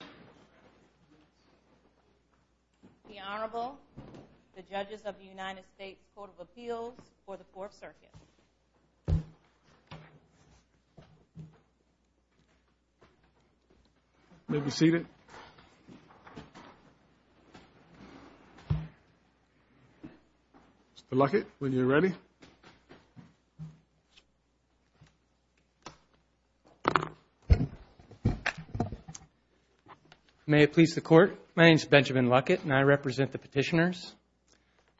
The Honorable, the Judges of the United States Court of Appeals for the Fourth Circuit. You may be seated. Mr. Luckett, when you're ready. May it please the Court, my name is Benjamin Luckett and I represent the petitioners.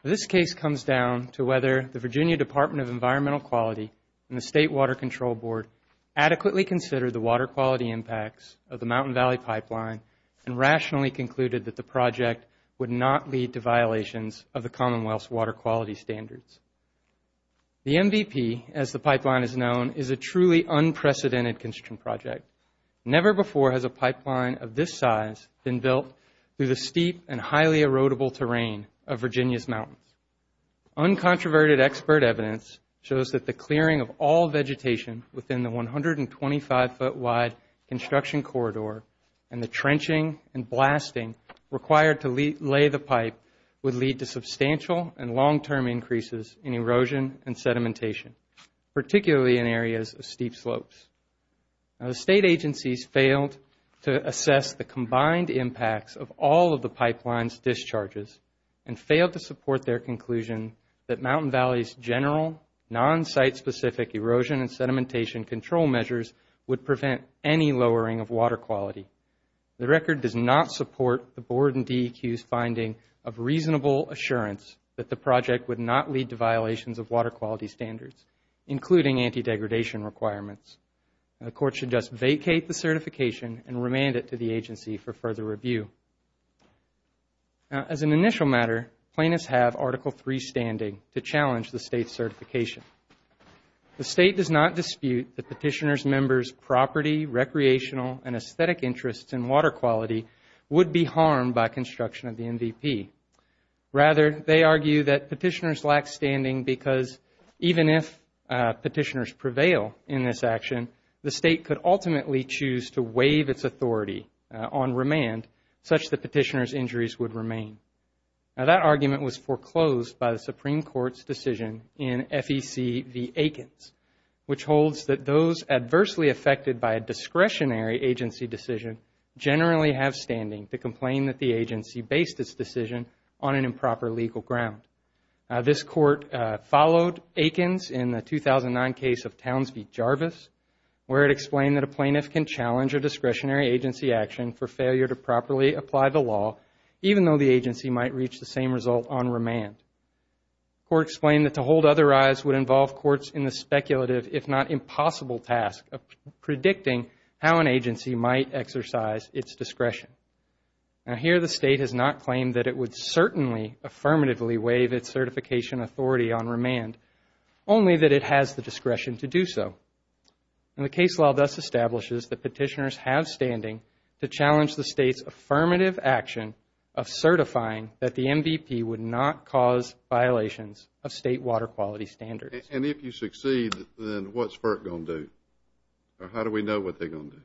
This case comes down to whether the Virginia Department of Environmental Quality and the State Water Control Board adequately considered the water quality impacts of the Mountain Valley Pipeline and rationally concluded that the project would not lead to violations of the Commonwealth's water quality standards. The MVP, as the pipeline is known, is a truly unprecedented construction project. Never before has a pipeline of this size been built through the steep and highly erodible terrain of Virginia's mountains. Uncontroverted expert evidence shows that the clearing of all vegetation within the 125-foot-wide construction corridor and the trenching and blasting required to lay the pipe would lead to substantial and long-term increases in erosion and sedimentation, particularly in areas of steep slopes. The State agencies failed to assess the combined impacts of all of the pipeline's discharges and failed to support their conclusion that Mountain Valley's general, non-site-specific erosion and sedimentation control measures would prevent any lowering of water quality. The record does not support the Board and DEQ's finding of reasonable assurance that the project would not lead to violations of water quality standards, including anti-degradation requirements. The Court should just vacate the certification and remand it to the agency for further review. As an initial matter, plaintiffs have Article III standing to challenge the State's certification. The State does not dispute the petitioners' members' property, recreational, and aesthetic interests in water quality would be harmed by construction of the MVP. Rather, they argue that petitioners lack standing because even if petitioners prevail in this action, the State could ultimately choose to waive its authority on remand such that petitioners' injuries would remain. Now, that argument was foreclosed by the Supreme Court's decision in FEC v. Aikens, which holds that those adversely affected by a discretionary agency decision generally have standing to complain that the agency based its decision on an improper legal ground. Now, this Court followed Aikens in the 2009 case of Townsville-Jarvis, where it explained that a plaintiff can challenge a discretionary agency action for failure to properly apply the law, even though the agency might reach the same result on remand. The Court explained that to hold other eyes would involve courts in the speculative, if not impossible, task of predicting how an agency might exercise its discretion. Now, here the State has not claimed that it would certainly affirmatively waive its certification authority on remand, only that it has the discretion to do so. And the case law thus establishes that petitioners have standing to challenge the State's affirmative action of certifying that the MVP would not cause violations of State water quality standards. And if you succeed, then what's FERC going to do? Or how do we know what they're going to do?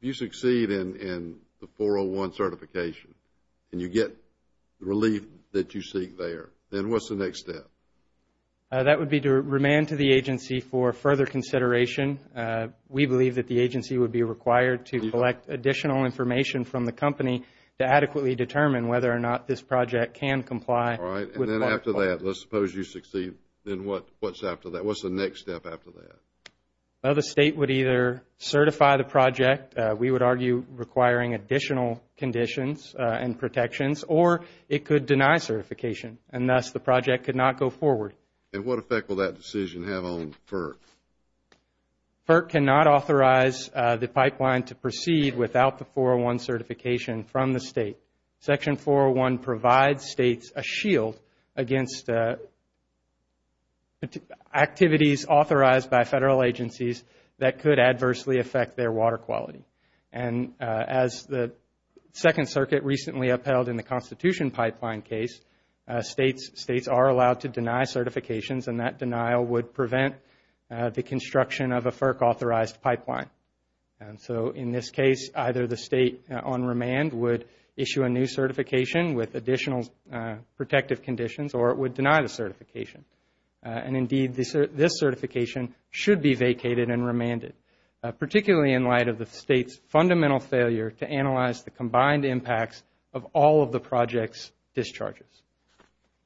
If you succeed in the 401 certification and you get the relief that you seek there, then what's the next step? That would be to remand to the agency for further consideration. We believe that the agency would be required to collect additional information from the company to adequately determine whether or not this project can comply. All right. And then after that, let's suppose you succeed. Then what's after that? What's the next step after that? Well, the State would either certify the project, we would argue requiring additional conditions and protections, or it could deny certification, and thus the project could not go forward. And what effect will that decision have on FERC? FERC cannot authorize the pipeline to proceed without the 401 certification from the State. Section 401 provides States a shield against activities authorized by Federal agencies that could adversely affect their water quality. And as the Second Circuit recently upheld in the Constitution Pipeline case, States are allowed to deny certifications, and that denial would prevent the construction of a FERC-authorized pipeline. So in this case, either the State on remand would issue a new certification with additional protective conditions or it would deny the certification. And indeed, this certification should be vacated and remanded, particularly in light of the State's fundamental failure to analyze the combined impacts of all of the project's discharges.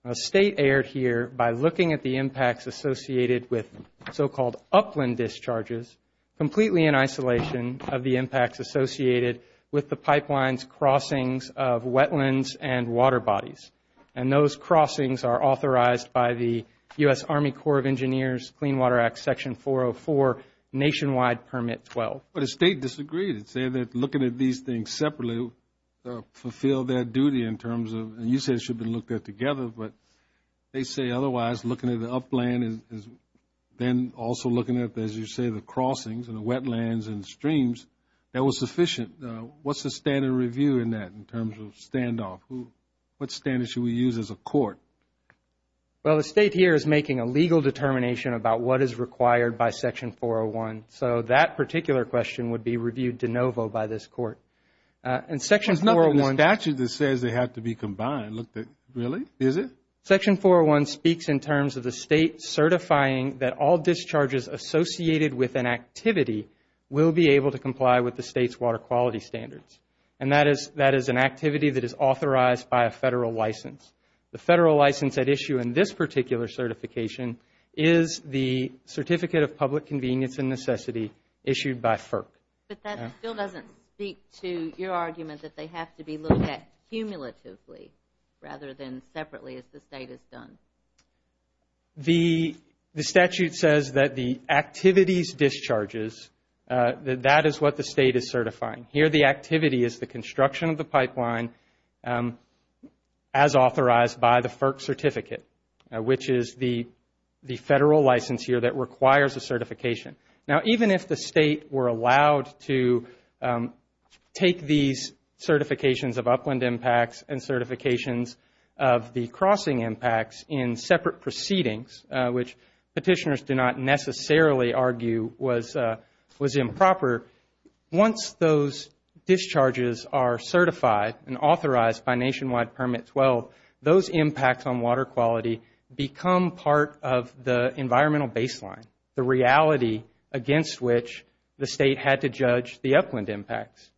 A State erred here by looking at the impacts associated with so-called upland discharges completely in isolation of the impacts associated with the pipeline's crossings of wetlands and water bodies. And those crossings are authorized by the U.S. Army Corps of Engineers Clean Water Act Section 404 Nationwide Permit 12. But a State disagreed. It said that looking at these things separately fulfilled their duty in terms of, and you said it should have been looked at together, but they say otherwise, looking at the upland and then also looking at, as you say, the crossings and the wetlands and streams, that was sufficient. What's the standard review in that in terms of standoff? What standard should we use as a court? Well, the State here is making a legal determination about what is required by Section 401. So that particular question would be reviewed de novo by this court. There's nothing in the statute that says they have to be combined. Really? Is it? Section 401 speaks in terms of the State certifying that all discharges associated with an activity will be able to comply with the State's water quality standards. And that is an activity that is authorized by a Federal license. The Federal license at issue in this particular certification is the Certificate of Public Convenience and Necessity issued by FERC. But that still doesn't speak to your argument that they have to be looked at cumulatively rather than separately as the State has done. The statute says that the activities discharges, that is what the State is certifying. Here the activity is the construction of the pipeline as authorized by the FERC certificate, which is the Federal license here that requires a certification. Now, even if the State were allowed to take these certifications of upland impacts and certifications of the crossing impacts in separate proceedings, which petitioners do not necessarily argue was improper, once those discharges are certified and authorized by Nationwide Permit 12, those impacts on water quality become part of the environmental baseline, the reality against which the State had to judge the upland impacts.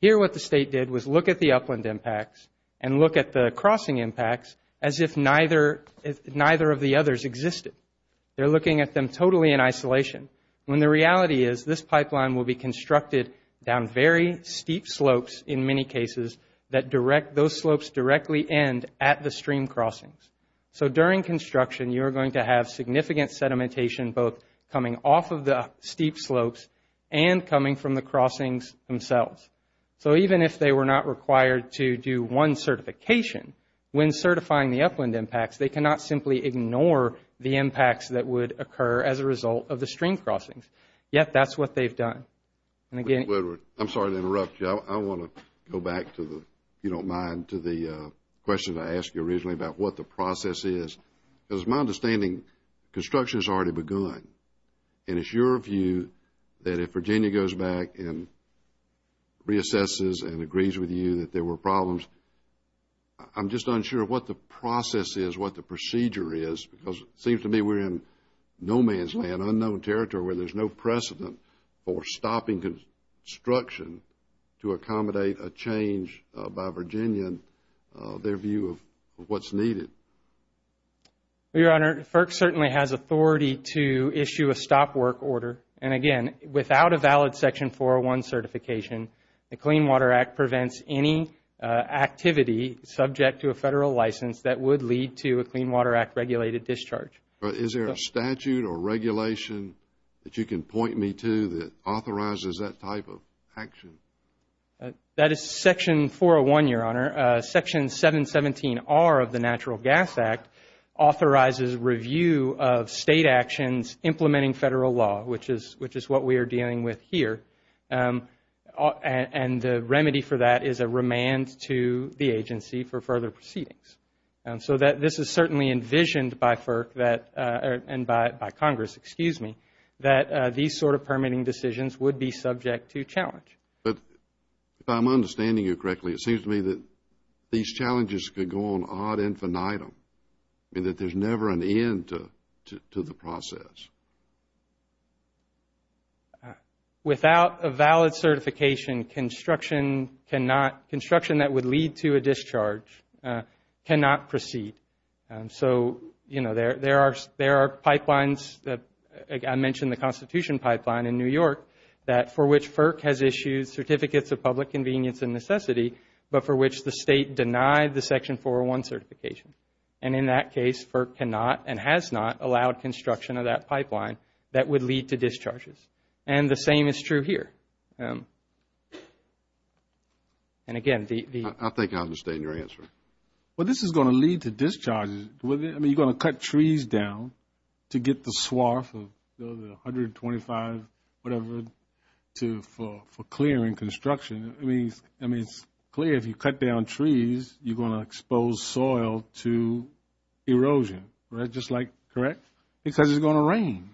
Here what the State did was look at the upland impacts and look at the crossing impacts as if neither of the others existed. They're looking at them totally in isolation, when the reality is this pipeline will be constructed down very steep slopes in many cases that those slopes directly end at the stream crossings. So during construction, you're going to have significant sedimentation both coming off of the steep slopes and coming from the crossings themselves. So even if they were not required to do one certification, when certifying the upland impacts, they cannot simply ignore the impacts that would occur as a result of the stream crossings. Yet that's what they've done. I'm sorry to interrupt you. I want to go back to the, if you don't mind, to the question I asked you originally about what the process is. As my understanding, construction has already begun. And it's your view that if Virginia goes back and reassesses and agrees with you that there were problems, I'm just unsure what the process is, what the procedure is, because it seems to me we're in no man's land, unknown territory, where there's no precedent for stopping construction to accommodate a change by Virginia, their view of what's needed. Well, Your Honor, FERC certainly has authority to issue a stop work order. And again, without a valid Section 401 certification, the Clean Water Act prevents any activity subject to a Federal license that would lead to a Clean Water Act regulated discharge. But is there a statute or regulation that you can point me to that authorizes that type of action? That is Section 401, Your Honor. Section 717R of the Natural Gas Act authorizes review of State actions implementing Federal law, which is what we are dealing with here. And the remedy for that is a remand to the agency for further proceedings. So this is certainly envisioned by FERC and by Congress, excuse me, that these sort of permitting decisions would be subject to challenge. But if I'm understanding you correctly, it seems to me that these challenges could go on ad infinitum, and that there's never an end to the process. Without a valid certification, construction that would lead to a discharge cannot proceed. So, you know, there are pipelines, I mentioned the Constitution Pipeline in New York, for which FERC has issued Certificates of Public Convenience and Necessity, but for which the State denied the Section 401 certification. And in that case, FERC cannot and has not allowed construction of that pipeline that would lead to discharges. And the same is true here. And again, the ‑‑ I think I understand your answer. Well, this is going to lead to discharges. I mean, you're going to cut trees down to get the swath of the 125, whatever, for clearing construction. I mean, it's clear if you cut down trees, you're going to expose soil to erosion, right? Just like, correct? Because it's going to rain.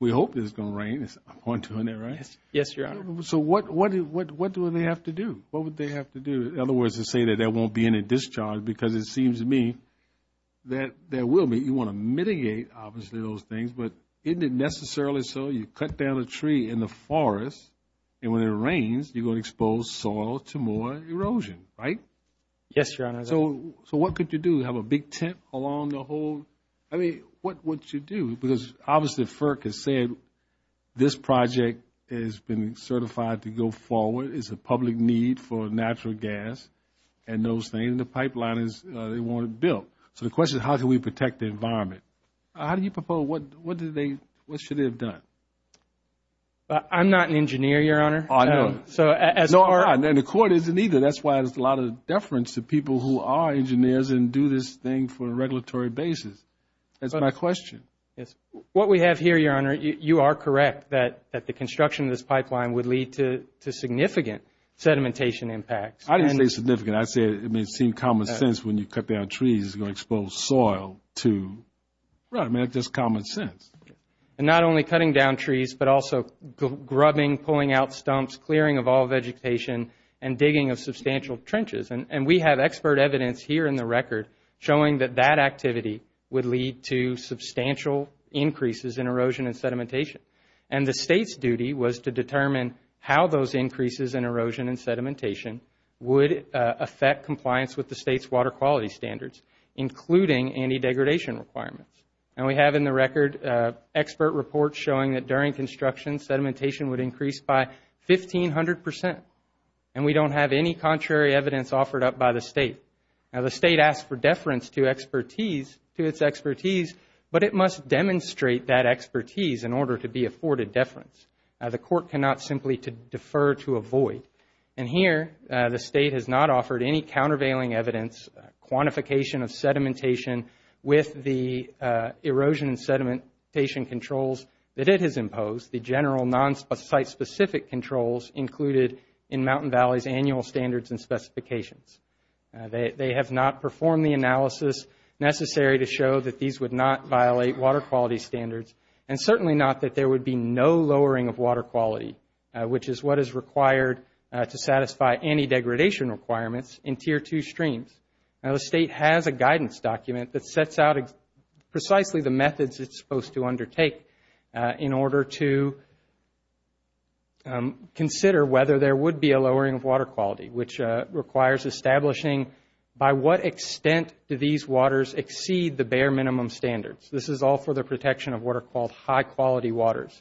We hope it's going to rain. I'm pointing to it now, right? Yes, Your Honor. So what do they have to do? What would they have to do? In other words, to say that there won't be any discharge, because it seems to me that there will be. You want to mitigate, obviously, those things. But isn't it necessarily so? You cut down a tree in the forest, and when it rains, you're going to expose soil to more erosion, right? Yes, Your Honor. So what could you do? Have a big tent along the whole? I mean, what would you do? Because, obviously, FERC has said this project has been certified to go forward. It's a public need for natural gas and those things. The pipeline, they want it built. So the question is, how can we protect the environment? How do you propose? What should they have done? I'm not an engineer, Your Honor. I know. And the Court isn't either. That's why there's a lot of deference to people who are engineers and do this thing for a regulatory basis. That's my question. Yes. What we have here, Your Honor, you are correct that the construction of this pipeline would lead to significant sedimentation impacts. I didn't say significant. I said it may seem common sense when you cut down trees, you're going to expose soil to. Right. I mean, that's just common sense. And not only cutting down trees, but also grubbing, pulling out stumps, clearing of all vegetation, and digging of substantial trenches. And we have expert evidence here in the record showing that that activity would lead to substantial increases in erosion and sedimentation. And the State's duty was to determine how those increases in erosion and sedimentation would affect compliance with the State's water quality standards, including anti-degradation requirements. And we have in the record expert reports showing that during construction, sedimentation would increase by 1,500 percent. And we don't have any contrary evidence offered up by the State. Now, the State asked for deference to expertise, to its expertise, but it must demonstrate that expertise in order to be afforded deference. The Court cannot simply defer to a void. And here, the State has not offered any countervailing evidence, quantification of sedimentation with the erosion and sedimentation controls that it has imposed, the general non-site-specific controls included in Mountain Valley's annual standards and specifications. They have not performed the analysis necessary to show that these would not violate water quality standards, and certainly not that there would be no lowering of water quality, which is what is required to satisfy anti-degradation requirements in Tier 2 streams. Now, the State has a guidance document that sets out precisely the methods it's supposed to undertake in order to consider whether there would be a lowering of water quality, which requires establishing by what extent do these waters exceed the bare minimum standards. This is all for the protection of what are called high-quality waters.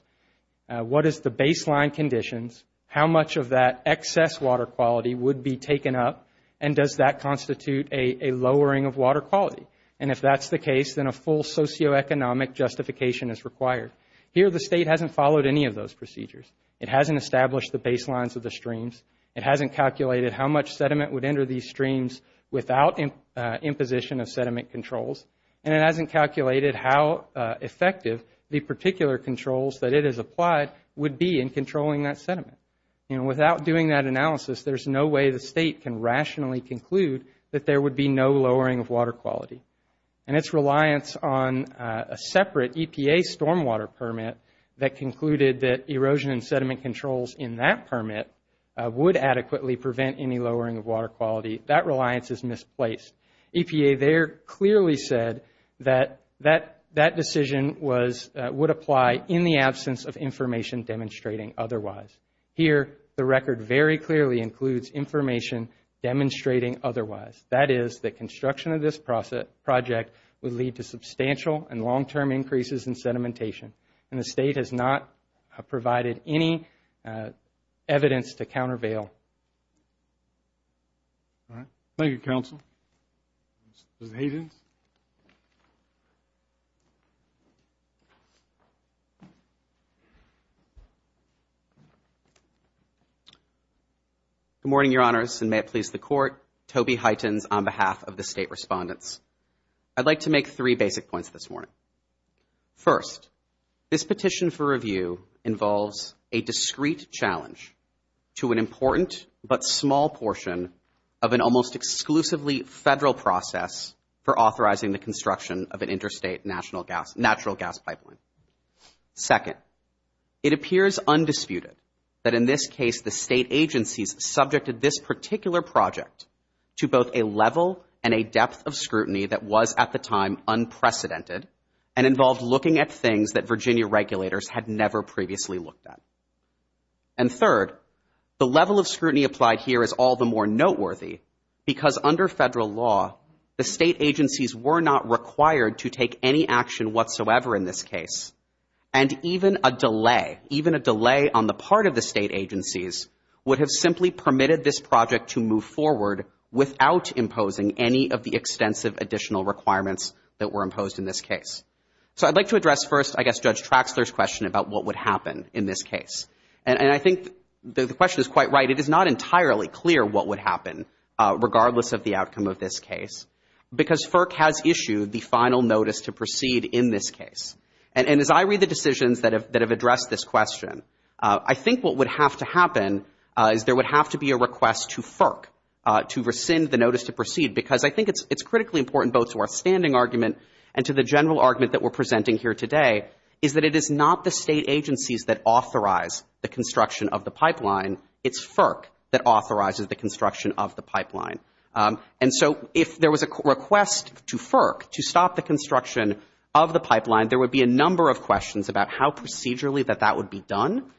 What is the baseline conditions, how much of that excess water quality would be taken up, and does that constitute a lowering of water quality? And if that's the case, then a full socioeconomic justification is required. Here, the State hasn't followed any of those procedures. It hasn't established the baselines of the streams. It hasn't calculated how much sediment would enter these streams without imposition of sediment controls, and it hasn't calculated how effective the particular controls that it has applied would be in controlling that sediment. You know, without doing that analysis, there's no way the State can rationally conclude that there would be no lowering of water quality. And its reliance on a separate EPA stormwater permit that concluded that erosion and sediment controls in that permit would adequately prevent any lowering of water quality, that reliance is misplaced. EPA there clearly said that that decision would apply in the absence of information demonstrating otherwise. Here, the record very clearly includes information demonstrating otherwise. That is that construction of this project would lead to substantial and long-term increases in sedimentation, and the State has not provided any evidence to countervail. All right. Thank you, Counsel. Mr. Hayden. Good morning, Your Honors, and may it please the Court. Toby Huytens on behalf of the State Respondents. I'd like to make three basic points this morning. First, this petition for review involves a discrete challenge to an important but small portion of an almost exclusively Federal process for authorizing the construction of an interstate natural gas pipeline. Second, it appears undisputed that in this case the State agencies subjected this particular project to both a level and a depth of scrutiny that was at the time unprecedented and involved looking at things that Virginia regulators had never previously looked at. And third, the level of scrutiny applied here is all the more noteworthy because under Federal law, the State agencies were not required to take any action whatsoever in this case, and even a delay, even a delay on the part of the State agencies, would have simply permitted this project to move forward without imposing any of the extensive additional requirements that were imposed in this case. So I'd like to address first, I guess, Judge Traxler's question about what would happen in this case. And I think the question is quite right. It is not entirely clear what would happen regardless of the outcome of this case because FERC has issued the final notice to proceed in this case. And as I read the decisions that have addressed this question, I think what would have to happen is there would have to be a request to FERC to rescind the notice to proceed because I think it's critically important both to our standing argument and to the general argument that we're presenting here today, is that it is not the State agencies that authorize the construction of the pipeline. It's FERC that authorizes the construction of the pipeline. And so if there was a request to FERC to stop the construction of the pipeline, there would be a number of questions about how procedurally that that would be done.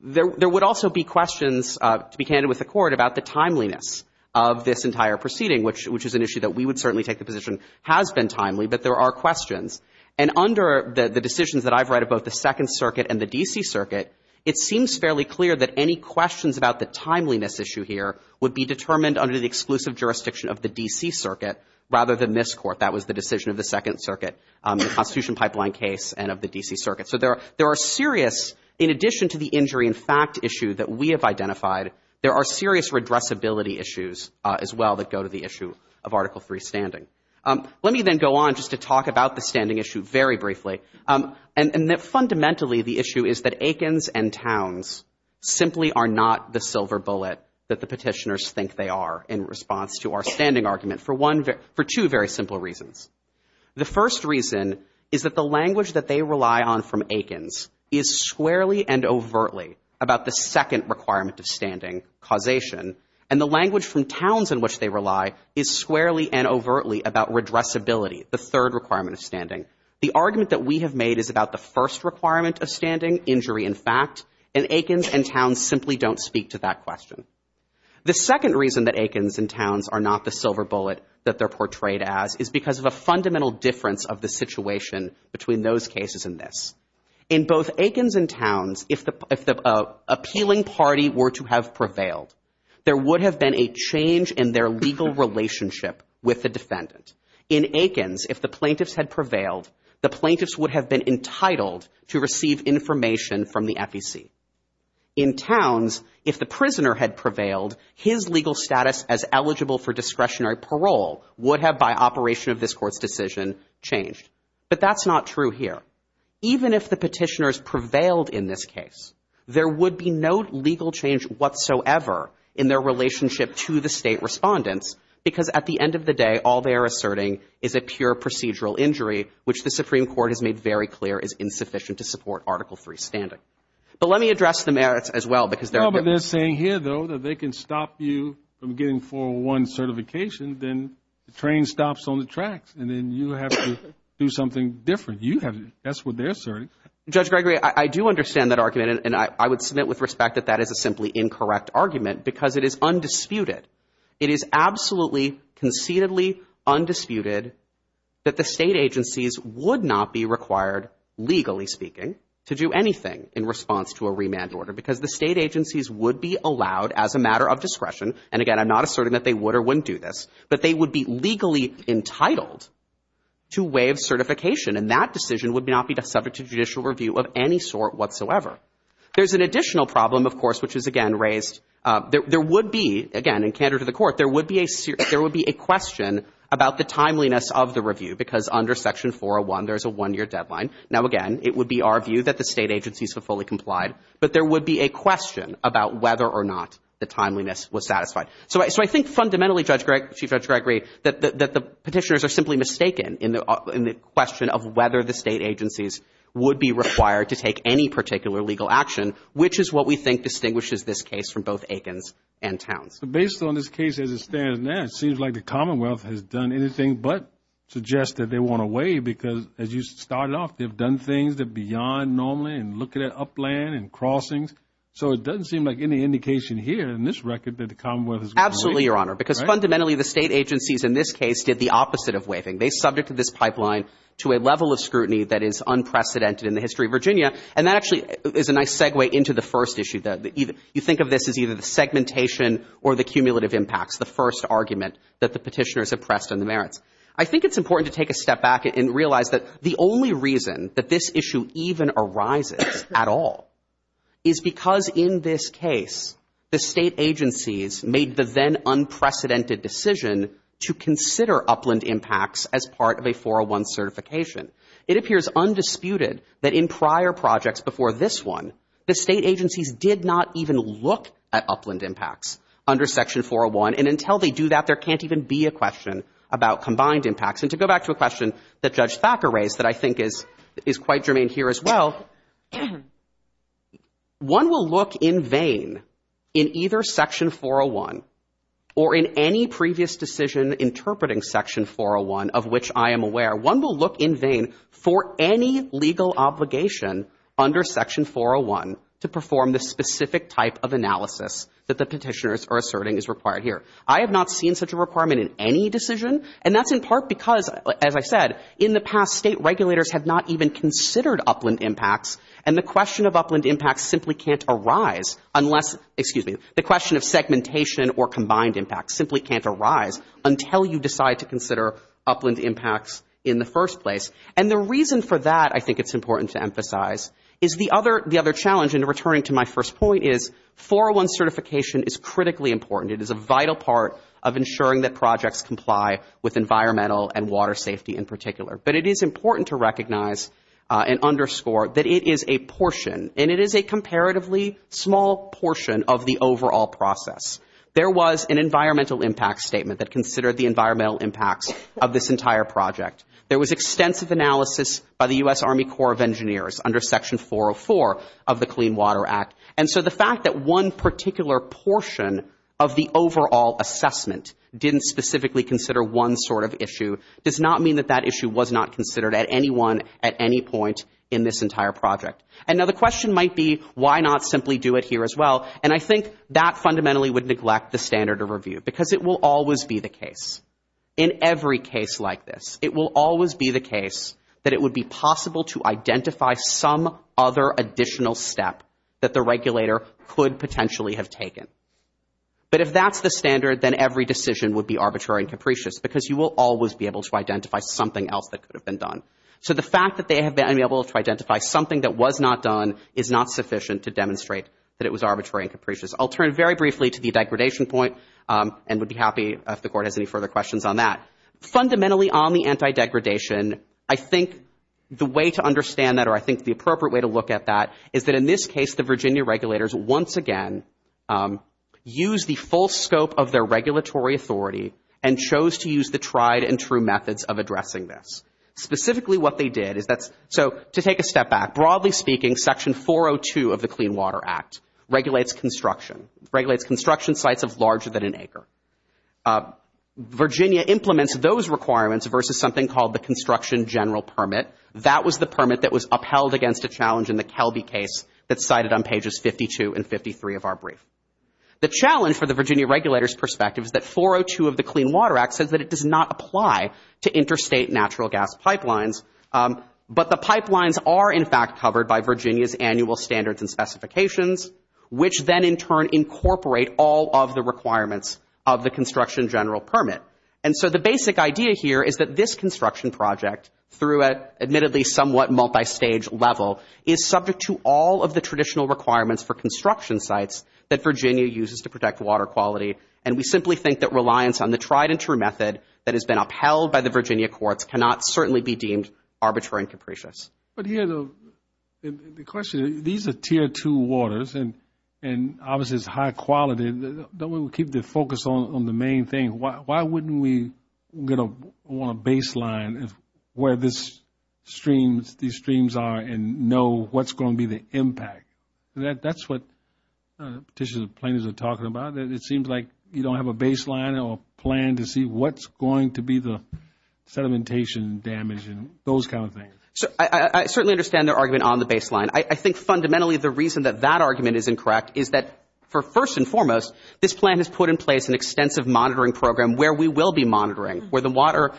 There would also be questions, to be candid with the Court, about the timeliness of this entire proceeding, which is an issue that we would certainly take the position has been timely, but there are questions. And under the decisions that I've read of both the Second Circuit and the D.C. Circuit, it seems fairly clear that any questions about the timeliness issue here would be determined under the exclusive jurisdiction of the D.C. Circuit rather than this Court. That was the decision of the Second Circuit. The Constitution Pipeline case and of the D.C. Circuit. So there are serious, in addition to the injury in fact issue that we have identified, there are serious redressability issues as well that go to the issue of Article III standing. Let me then go on just to talk about the standing issue very briefly. Fundamentally, the issue is that Aikens and Towns simply are not the silver bullet that the petitioners think they are in response to our standing argument for two very simple reasons. The first reason is that the language that they rely on from Aikens is squarely and overtly about the second requirement of standing, causation, and the language from Towns in which they rely is squarely and overtly about redressability, the third requirement of standing. The argument that we have made is about the first requirement of standing, injury in fact, and Aikens and Towns simply don't speak to that question. The second reason that Aikens and Towns are not the silver bullet that they're portrayed as is because of a fundamental difference of the situation between those cases and this. In both Aikens and Towns, if the appealing party were to have prevailed, there would have been a change in their legal relationship with the defendant. In Aikens, if the plaintiffs had prevailed, the plaintiffs would have been entitled to receive information from the FEC. In Towns, if the prisoner had prevailed, his legal status as eligible for discretionary parole would have, by operation of this Court's decision, changed. But that's not true here. Even if the petitioners prevailed in this case, there would be no legal change whatsoever in their relationship to the State respondents because at the end of the day, all they are asserting is a pure procedural injury, which the Supreme Court has made very clear is insufficient to support Article III's standing. But let me address the merits as well because there are differences. I'm not saying here, though, that they can stop you from getting 401 certification. Then the train stops on the tracks, and then you have to do something different. That's what they're asserting. Judge Gregory, I do understand that argument, and I would submit with respect that that is a simply incorrect argument because it is undisputed. It is absolutely concededly undisputed that the State agencies would not be required, legally speaking, to do anything in response to a remand order because the State agencies would be allowed as a matter of discretion. And, again, I'm not asserting that they would or wouldn't do this, but they would be legally entitled to waive certification. And that decision would not be subject to judicial review of any sort whatsoever. There's an additional problem, of course, which is, again, raised. There would be, again, and candor to the Court, there would be a question about the timeliness of the review because under Section 401, there's a one-year deadline. Now, again, it would be our view that the State agencies have fully complied, but there would be a question about whether or not the timeliness was satisfied. So I think fundamentally, Chief Judge Gregory, that the petitioners are simply mistaken in the question of whether the State agencies would be required to take any particular legal action, which is what we think distinguishes this case from both Aikens and Towns. Based on this case as it stands now, it seems like the Commonwealth has done anything but suggest that they want to waive because, as you started off, they've done things that are beyond normally and looking at upland and crossings. So it doesn't seem like any indication here in this record that the Commonwealth has gone away. Absolutely, Your Honor, because fundamentally, the State agencies in this case did the opposite of waiving. They subjected this pipeline to a level of scrutiny that is unprecedented in the history of Virginia, and that actually is a nice segue into the first issue. You think of this as either the segmentation or the cumulative impacts, the first argument that the petitioners have pressed on the merits. I think it's important to take a step back and realize that the only reason that this issue even arises at all is because in this case, the State agencies made the then unprecedented decision to consider upland impacts as part of a 401 certification. It appears undisputed that in prior projects before this one, the State agencies did not even look at upland impacts under Section 401, and until they do that, there can't even be a question about combined impacts. And to go back to a question that Judge Thacker raised that I think is quite germane here as well, one will look in vain in either Section 401 or in any previous decision interpreting Section 401, of which I am aware, one will look in vain for any legal obligation under Section 401 to perform the specific type of analysis that the petitioners are asserting is required here. I have not seen such a requirement in any decision, and that's in part because, as I said, in the past State regulators have not even considered upland impacts, and the question of upland impacts simply can't arise unless, excuse me, the question of segmentation or combined impacts simply can't arise until you decide to consider upland impacts in the first place. And the reason for that, I think it's important to emphasize, is the other challenge, and returning to my first point, is 401 certification is critically important. It is a vital part of ensuring that projects comply with environmental and water safety in particular. But it is important to recognize and underscore that it is a portion, and it is a comparatively small portion of the overall process. There was an environmental impact statement that considered the environmental impacts of this entire project. There was extensive analysis by the U.S. Army Corps of Engineers under Section 404 of the Clean Water Act. And so the fact that one particular portion of the overall assessment didn't specifically consider one sort of issue does not mean that that issue was not considered at any one, at any point in this entire project. And now the question might be, why not simply do it here as well? And I think that fundamentally would neglect the standard of review, because it will always be the case. In every case like this, it will always be the case that it would be possible to identify some other additional step that the regulator could potentially have taken. But if that's the standard, then every decision would be arbitrary and capricious, because you will always be able to identify something else that could have been done. So the fact that they have been able to identify something that was not done is not sufficient to demonstrate that it was arbitrary and capricious. I'll turn very briefly to the degradation point, and would be happy if the Court has any further questions on that. Fundamentally on the anti-degradation, I think the way to understand that, or I think the appropriate way to look at that, is that in this case the Virginia regulators once again used the full scope of their regulatory authority and chose to use the tried and true methods of addressing this. Specifically what they did is that's, so to take a step back, broadly speaking, Section 402 of the Clean Water Act regulates construction, sites of larger than an acre. Virginia implements those requirements versus something called the Construction General Permit. That was the permit that was upheld against a challenge in the Kelby case that's cited on pages 52 and 53 of our brief. The challenge for the Virginia regulators' perspective is that 402 of the Clean Water Act says that it does not apply to interstate natural gas pipelines, but the pipelines are in fact covered by Virginia's annual standards and all of the requirements of the Construction General Permit. And so the basic idea here is that this construction project, through an admittedly somewhat multistage level, is subject to all of the traditional requirements for construction sites that Virginia uses to protect water quality. And we simply think that reliance on the tried and true method that has been upheld by the Virginia courts cannot certainly be deemed arbitrary and capricious. But here the question, these are tier two waters and obviously it's high quality. Don't we keep the focus on the main thing? Why wouldn't we want to baseline where these streams are and know what's going to be the impact? That's what petitioners and plaintiffs are talking about. It seems like you don't have a baseline or plan to see what's going to be the sedimentation damage and those kind of things. I certainly understand their argument on the baseline. I think fundamentally the reason that that argument is incorrect is that, first and foremost, this plan has put in place an extensive monitoring program where we will be monitoring, where the waters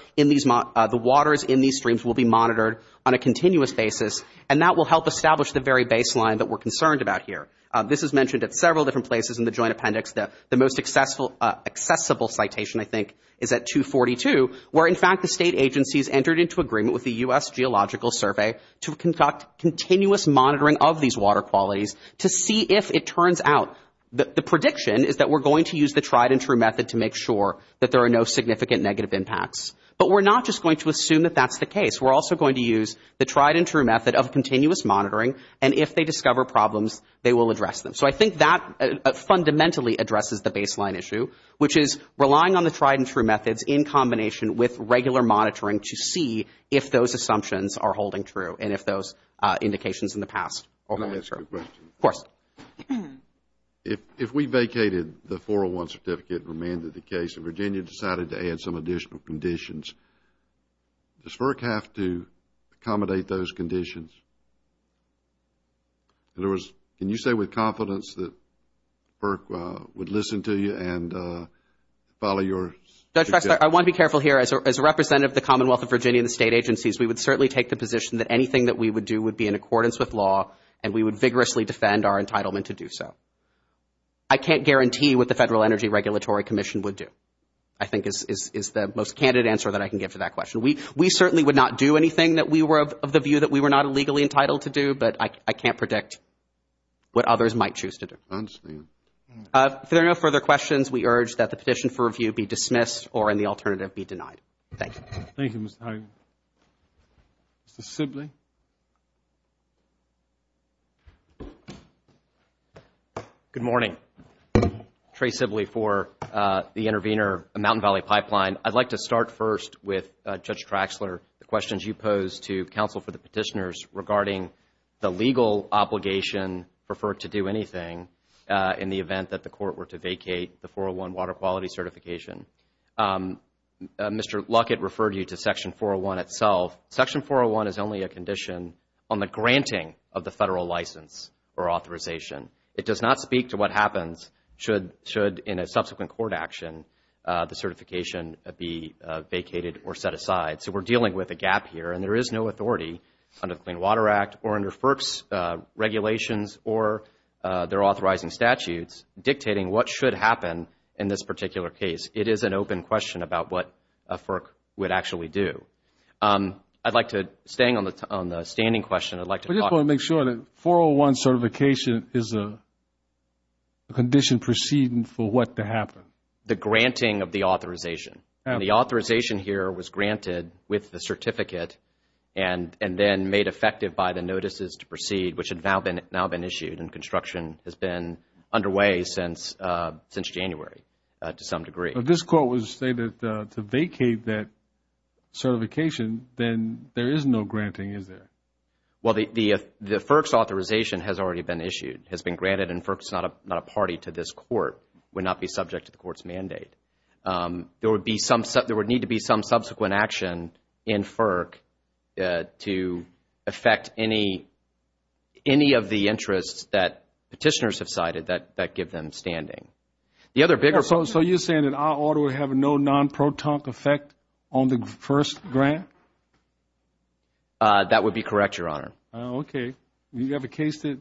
in these streams will be monitored on a continuous basis, and that will help establish the very baseline that we're concerned about here. This is mentioned at several different places in the Joint Appendix. The most accessible citation, I think, the State agencies entered into agreement with the U.S. Geological Survey to conduct continuous monitoring of these water qualities to see if it turns out. The prediction is that we're going to use the tried and true method to make sure that there are no significant negative impacts. But we're not just going to assume that that's the case. We're also going to use the tried and true method of continuous monitoring, and if they discover problems, they will address them. So I think that fundamentally addresses the baseline issue, which is relying on the tried and true methods in combination with regular monitoring to see if those assumptions are holding true, and if those indications in the past are holding true. Can I ask you a question? Of course. If we vacated the 401 certificate and remained at the case, and Virginia decided to add some additional conditions, does FERC have to accommodate those conditions? In other words, can you say with confidence that FERC would listen to you and follow your suggestions? Judge Baxter, I want to be careful here. As a representative of the Commonwealth of Virginia and the state agencies, we would certainly take the position that anything that we would do would be in accordance with law, and we would vigorously defend our entitlement to do so. I can't guarantee what the Federal Energy Regulatory Commission would do, I think is the most candid answer that I can give to that question. We certainly would not do anything that we were of the view that we were not legally entitled to do, but I can't predict what others might choose to do. If there are no further questions, we urge that the petition for review be dismissed or, in the alternative, be denied. Thank you. Thank you, Mr. Hager. Mr. Sibley. Good morning. Trey Sibley for the Intervenor Mountain Valley Pipeline. I'd like to start first with Judge Traxler, the questions you posed to counsel for the petitioners regarding the legal obligation for FERC to do anything in the event that the court were to vacate the 401 water quality certification. Mr. Luckett referred you to Section 401 itself. Section 401 is only a condition on the granting of the Federal license or authorization. It does not speak to what happens should, in a subsequent court action, the certification be vacated or set aside. So we're dealing with a gap here, and there is no authority under the Clean Water Act or under FERC's regulations or their authorizing statutes dictating what should happen in this particular case. It is an open question about what a FERC would actually do. I'd like to, staying on the standing question, I'd like to talk. We just want to make sure that 401 certification is a condition proceeding for what to happen. The granting of the authorization. And the authorization here was granted with the certificate and then made effective by the notices to proceed, which had now been issued, and construction has been underway since January to some degree. But this court would say that to vacate that certification, then there is no granting, is there? Well, the FERC's authorization has already been issued, has been granted, and FERC is not a party to this court. It would not be subject to the court's mandate. There would need to be some subsequent action in FERC to affect any of the things that petitioners have cited that give them standing. So you're saying that our order would have no non-proton effect on the first grant? That would be correct, Your Honor. Okay. Do you have a case that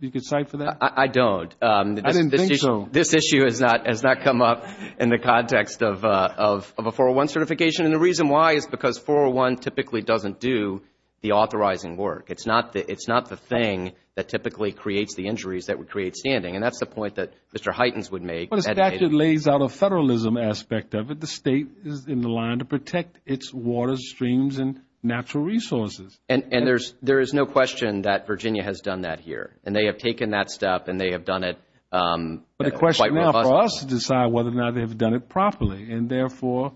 you could cite for that? I don't. I didn't think so. This issue has not come up in the context of a 401 certification. And the reason why is because 401 typically doesn't do the authorizing work. It's not the thing that typically creates the injuries that would create standing. And that's the point that Mr. Hytens would make. But it lays out a federalism aspect of it. The State is in the line to protect its waters, streams, and natural resources. And there is no question that Virginia has done that here. And they have taken that step, and they have done it quite robustly. But the question now for us is to decide whether or not they have done it properly. And, therefore,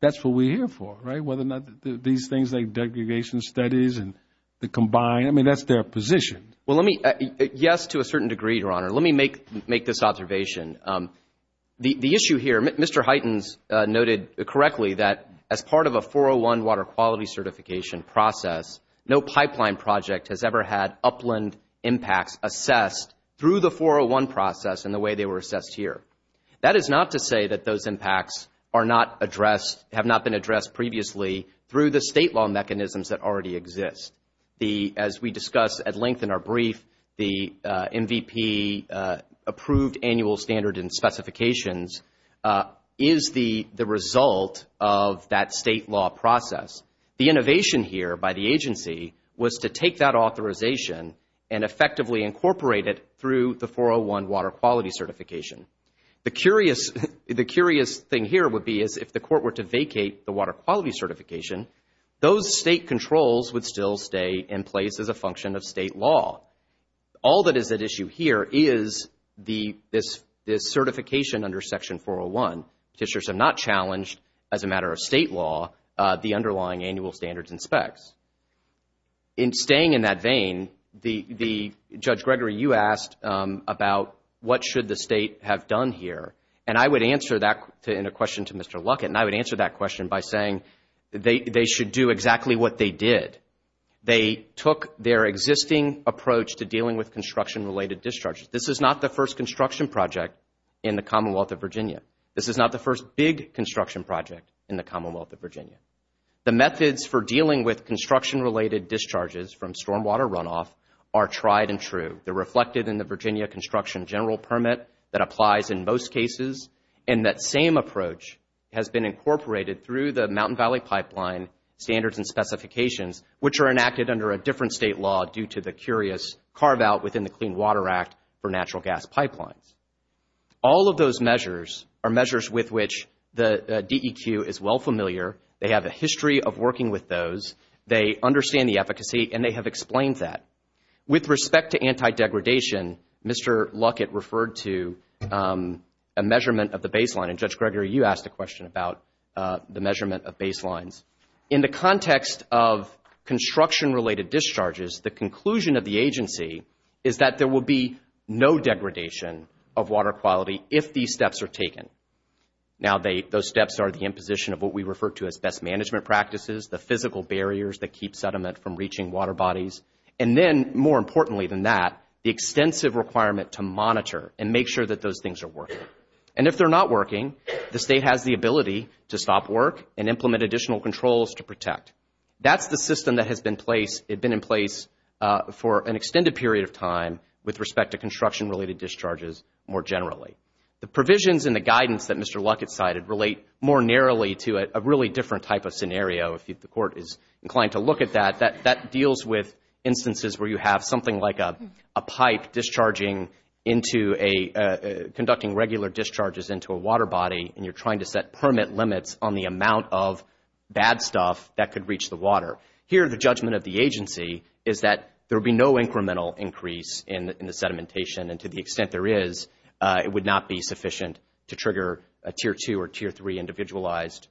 that's what we're here for, right, whether or not these things like degradation studies and the combined, I mean, that's their position. Well, let me, yes, to a certain degree, Your Honor. Let me make this observation. The issue here, Mr. Hytens noted correctly that as part of a 401 water quality certification process, no pipeline project has ever had upland impacts assessed through the 401 process in the way they were assessed here. That is not to say that those impacts are not addressed, have not been addressed previously, through the state law mechanisms that already exist. As we discussed at length in our brief, the MVP, Approved Annual Standard and Specifications, is the result of that state law process. The innovation here by the agency was to take that authorization and effectively incorporate it through the 401 water quality certification. The curious thing here would be is if the court were to vacate the water quality certification, those state controls would still stay in place as a function of state law. All that is at issue here is this certification under Section 401. Petitioners have not challenged, as a matter of state law, the underlying annual standards and specs. In staying in that vein, Judge Gregory, you asked about what should the state have done here, and I would answer that in a question to Mr. Luckett, and I would answer that question by saying they should do exactly what they did. They took their existing approach to dealing with construction-related discharges. This is not the first construction project in the Commonwealth of Virginia. This is not the first big construction project in the Commonwealth of Virginia. The methods for dealing with construction-related discharges from stormwater runoff are tried and true. They're reflected in the Virginia Construction General Permit that applies in most cases, and that same approach has been incorporated through the Mountain Valley Pipeline Standards and Specifications, which are enacted under a different state law due to the curious carve-out within the Clean Water Act for natural gas pipelines. All of those measures are measures with which the DEQ is well familiar. They have a history of working with those. They understand the efficacy, and they have explained that. With respect to anti-degradation, Mr. Luckett referred to a measurement of the baseline, and Judge Gregory, you asked a question about the measurement of baselines. In the context of construction-related discharges, the conclusion of the agency is that there will be no degradation of water quality if these steps are taken. Now those steps are the imposition of what we refer to as best management practices, the physical barriers that keep sediment from reaching water bodies, and then more importantly than that, the extensive requirement to monitor and make sure that those things are working. And if they're not working, the state has the ability to stop work and implement additional controls to protect. That's the system that has been in place for an extended period of time with respect to construction-related discharges more generally. The provisions in the guidance that Mr. Luckett cited relate more narrowly to a really different type of scenario. If the Court is inclined to look at that, that deals with instances where you have something like a pipe discharging into a, conducting regular discharges into a water body, and you're trying to set permit limits on the amount of bad stuff that could reach the water. Here the judgment of the agency is that there will be no incremental increase in the sedimentation, and to the extent there is, it would not be sufficient to trigger a Tier 2 or Tier 3 individualized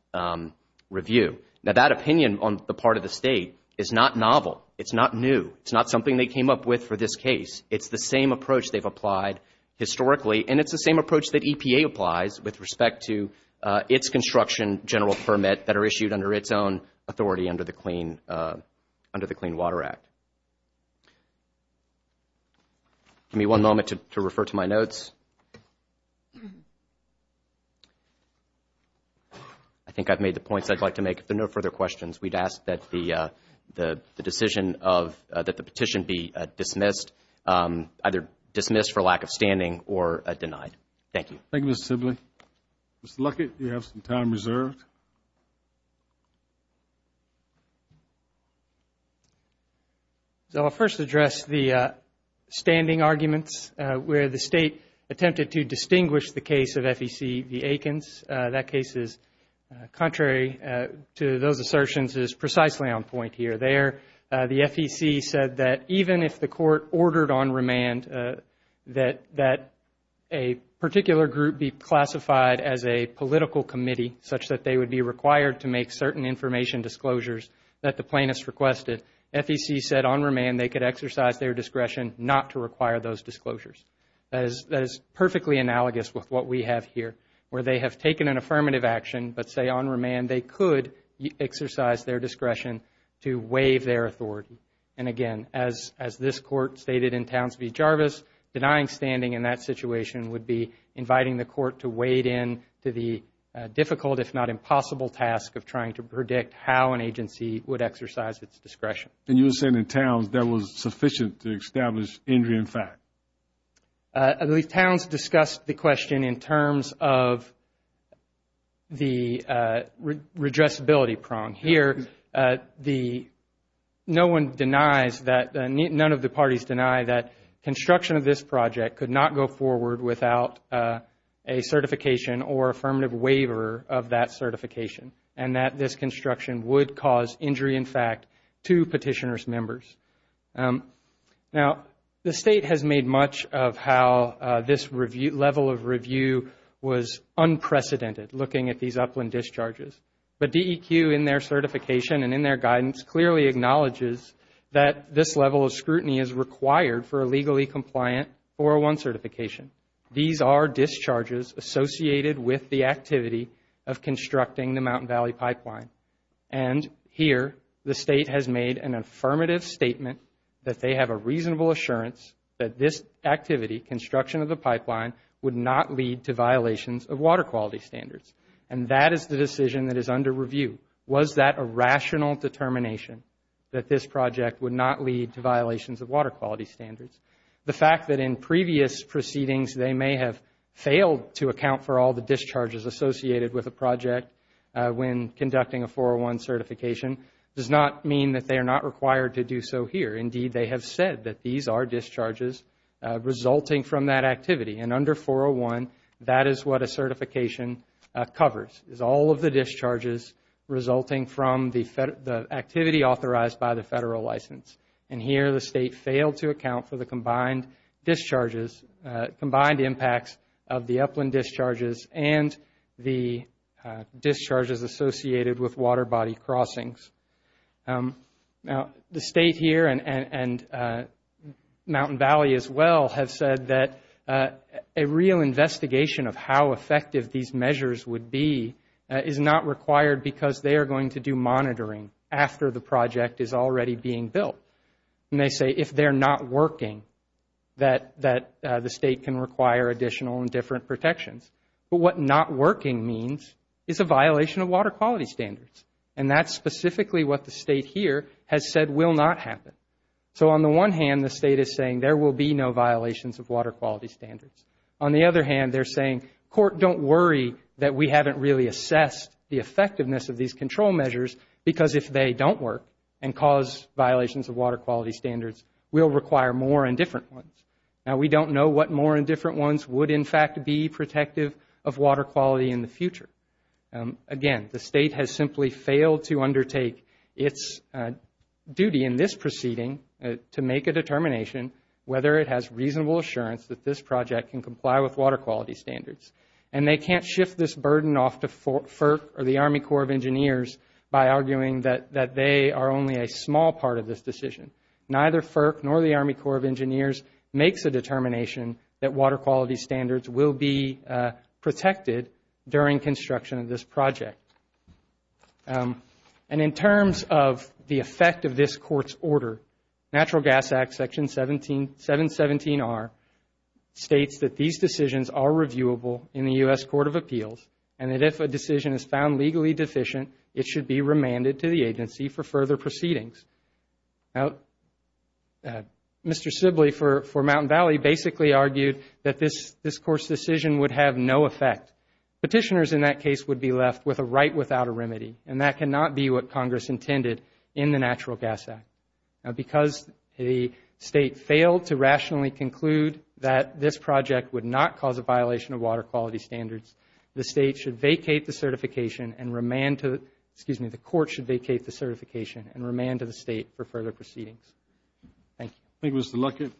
review. Now that opinion on the part of the state is not novel. It's not new. It's not something they came up with for this case. It's the same approach they've applied historically, and it's the same approach that EPA applies with respect to its construction general permit that are issued under its own authority under the Clean Water Act. Give me one moment to refer to my notes. I think I've made the points I'd like to make. If there are no further questions, we'd ask that the decision of, that the petition be dismissed, either dismissed for lack of standing or denied. Thank you. Thank you, Mr. Sibley. Mr. Luckett, you have some time reserved. So I'll first address the standing arguments where the state attempted to distinguish the case of FEC v. Aikens. That case is contrary to those assertions, is precisely on point here. There the FEC said that even if the court ordered on remand that a particular group be classified as a political committee, such that they would be required to make certain information disclosures that the plaintiffs requested, FEC said on remand they could exercise their discretion not to require those disclosures. That is perfectly analogous with what we have here, where they have taken an affirmative action, but say on remand they could exercise their discretion to waive their authority. And again, as this court stated in Townsville-Jarvis, denying standing in that situation would be inviting the court to wade in to the difficult, if not impossible, task of trying to predict how an agency would exercise its discretion. And you were saying in Towns that was sufficient to establish injury in fact. At least Towns discussed the question in terms of the redressability prong. Here, no one denies that, none of the parties deny that construction of this project could not go forward without a certification or affirmative waiver of that certification, and that this construction would cause injury in fact to petitioner's members. Now, the State has made much of how this level of review was unprecedented, looking at these upland discharges. But DEQ, in their certification and in their guidance, clearly acknowledges that this level of scrutiny is required for a legally compliant 401 certification. These are discharges associated with the activity of constructing the Mountain Valley Pipeline. And here, the State has made an affirmative statement that they have a reasonable assurance that this activity, construction of the pipeline, would not lead to violations of water quality standards. And that is the decision that is under review. Was that a rational determination that this project would not lead to violations of water quality standards? The fact that in previous proceedings they may have failed to account for all the discharges associated with a project when conducting a 401 certification does not mean that they are not required to do so here. Indeed, they have said that these are discharges resulting from that activity. And under 401, that is what a certification covers, is all of the discharges resulting from the activity authorized by the Federal license. And here, the State failed to account for the combined discharges, combined impacts of the upland discharges and the discharges associated with water body crossings. Now, the State here and Mountain Valley as well have said that a real investigation of how effective these measures would be is not required because they are going to do monitoring after the project is already being built. And they say if they are not working, that the State can require additional and different protections. But what not working means is a violation of water quality standards. And that's specifically what the State here has said will not happen. So on the one hand, the State is saying there will be no violations of water quality standards. On the other hand, they're saying, court, don't worry that we haven't really assessed the effectiveness of these control measures because if they don't work and cause violations of water quality standards, we'll require more and different ones. Now, we don't know what more and different ones would in fact be protective of water quality in the future. Again, the State has simply failed to undertake its duty in this proceeding to make a determination whether it has reasonable assurance that this project can comply with water quality standards. And they can't shift this burden off to FERC or the Army Corps of Engineers by arguing that they are only a small part of this decision. Neither FERC nor the Army Corps of Engineers makes a determination that water quality standards will be protected during construction of this project. And in terms of the effect of this court's order, Natural Gas Act, Section 717R, states that these decisions are reviewable in the U.S. Court of Appeals and that if a decision is found legally deficient, it should be remanded to the agency for further proceedings. Now, Mr. Sibley for Mountain Valley basically argued that this court's decision would have no effect. Petitioners in that case would be left with a right without a remedy and that cannot be what Congress intended in the Natural Gas Act. Now, because the State failed to rationally conclude that this project would not cause a violation of water quality standards, the Court should vacate the certification and remand to the State for further proceedings. Thank you. Thank you, Mr. Luckett.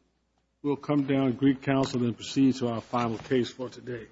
We'll come down to Greek Council and proceed to our final case for today.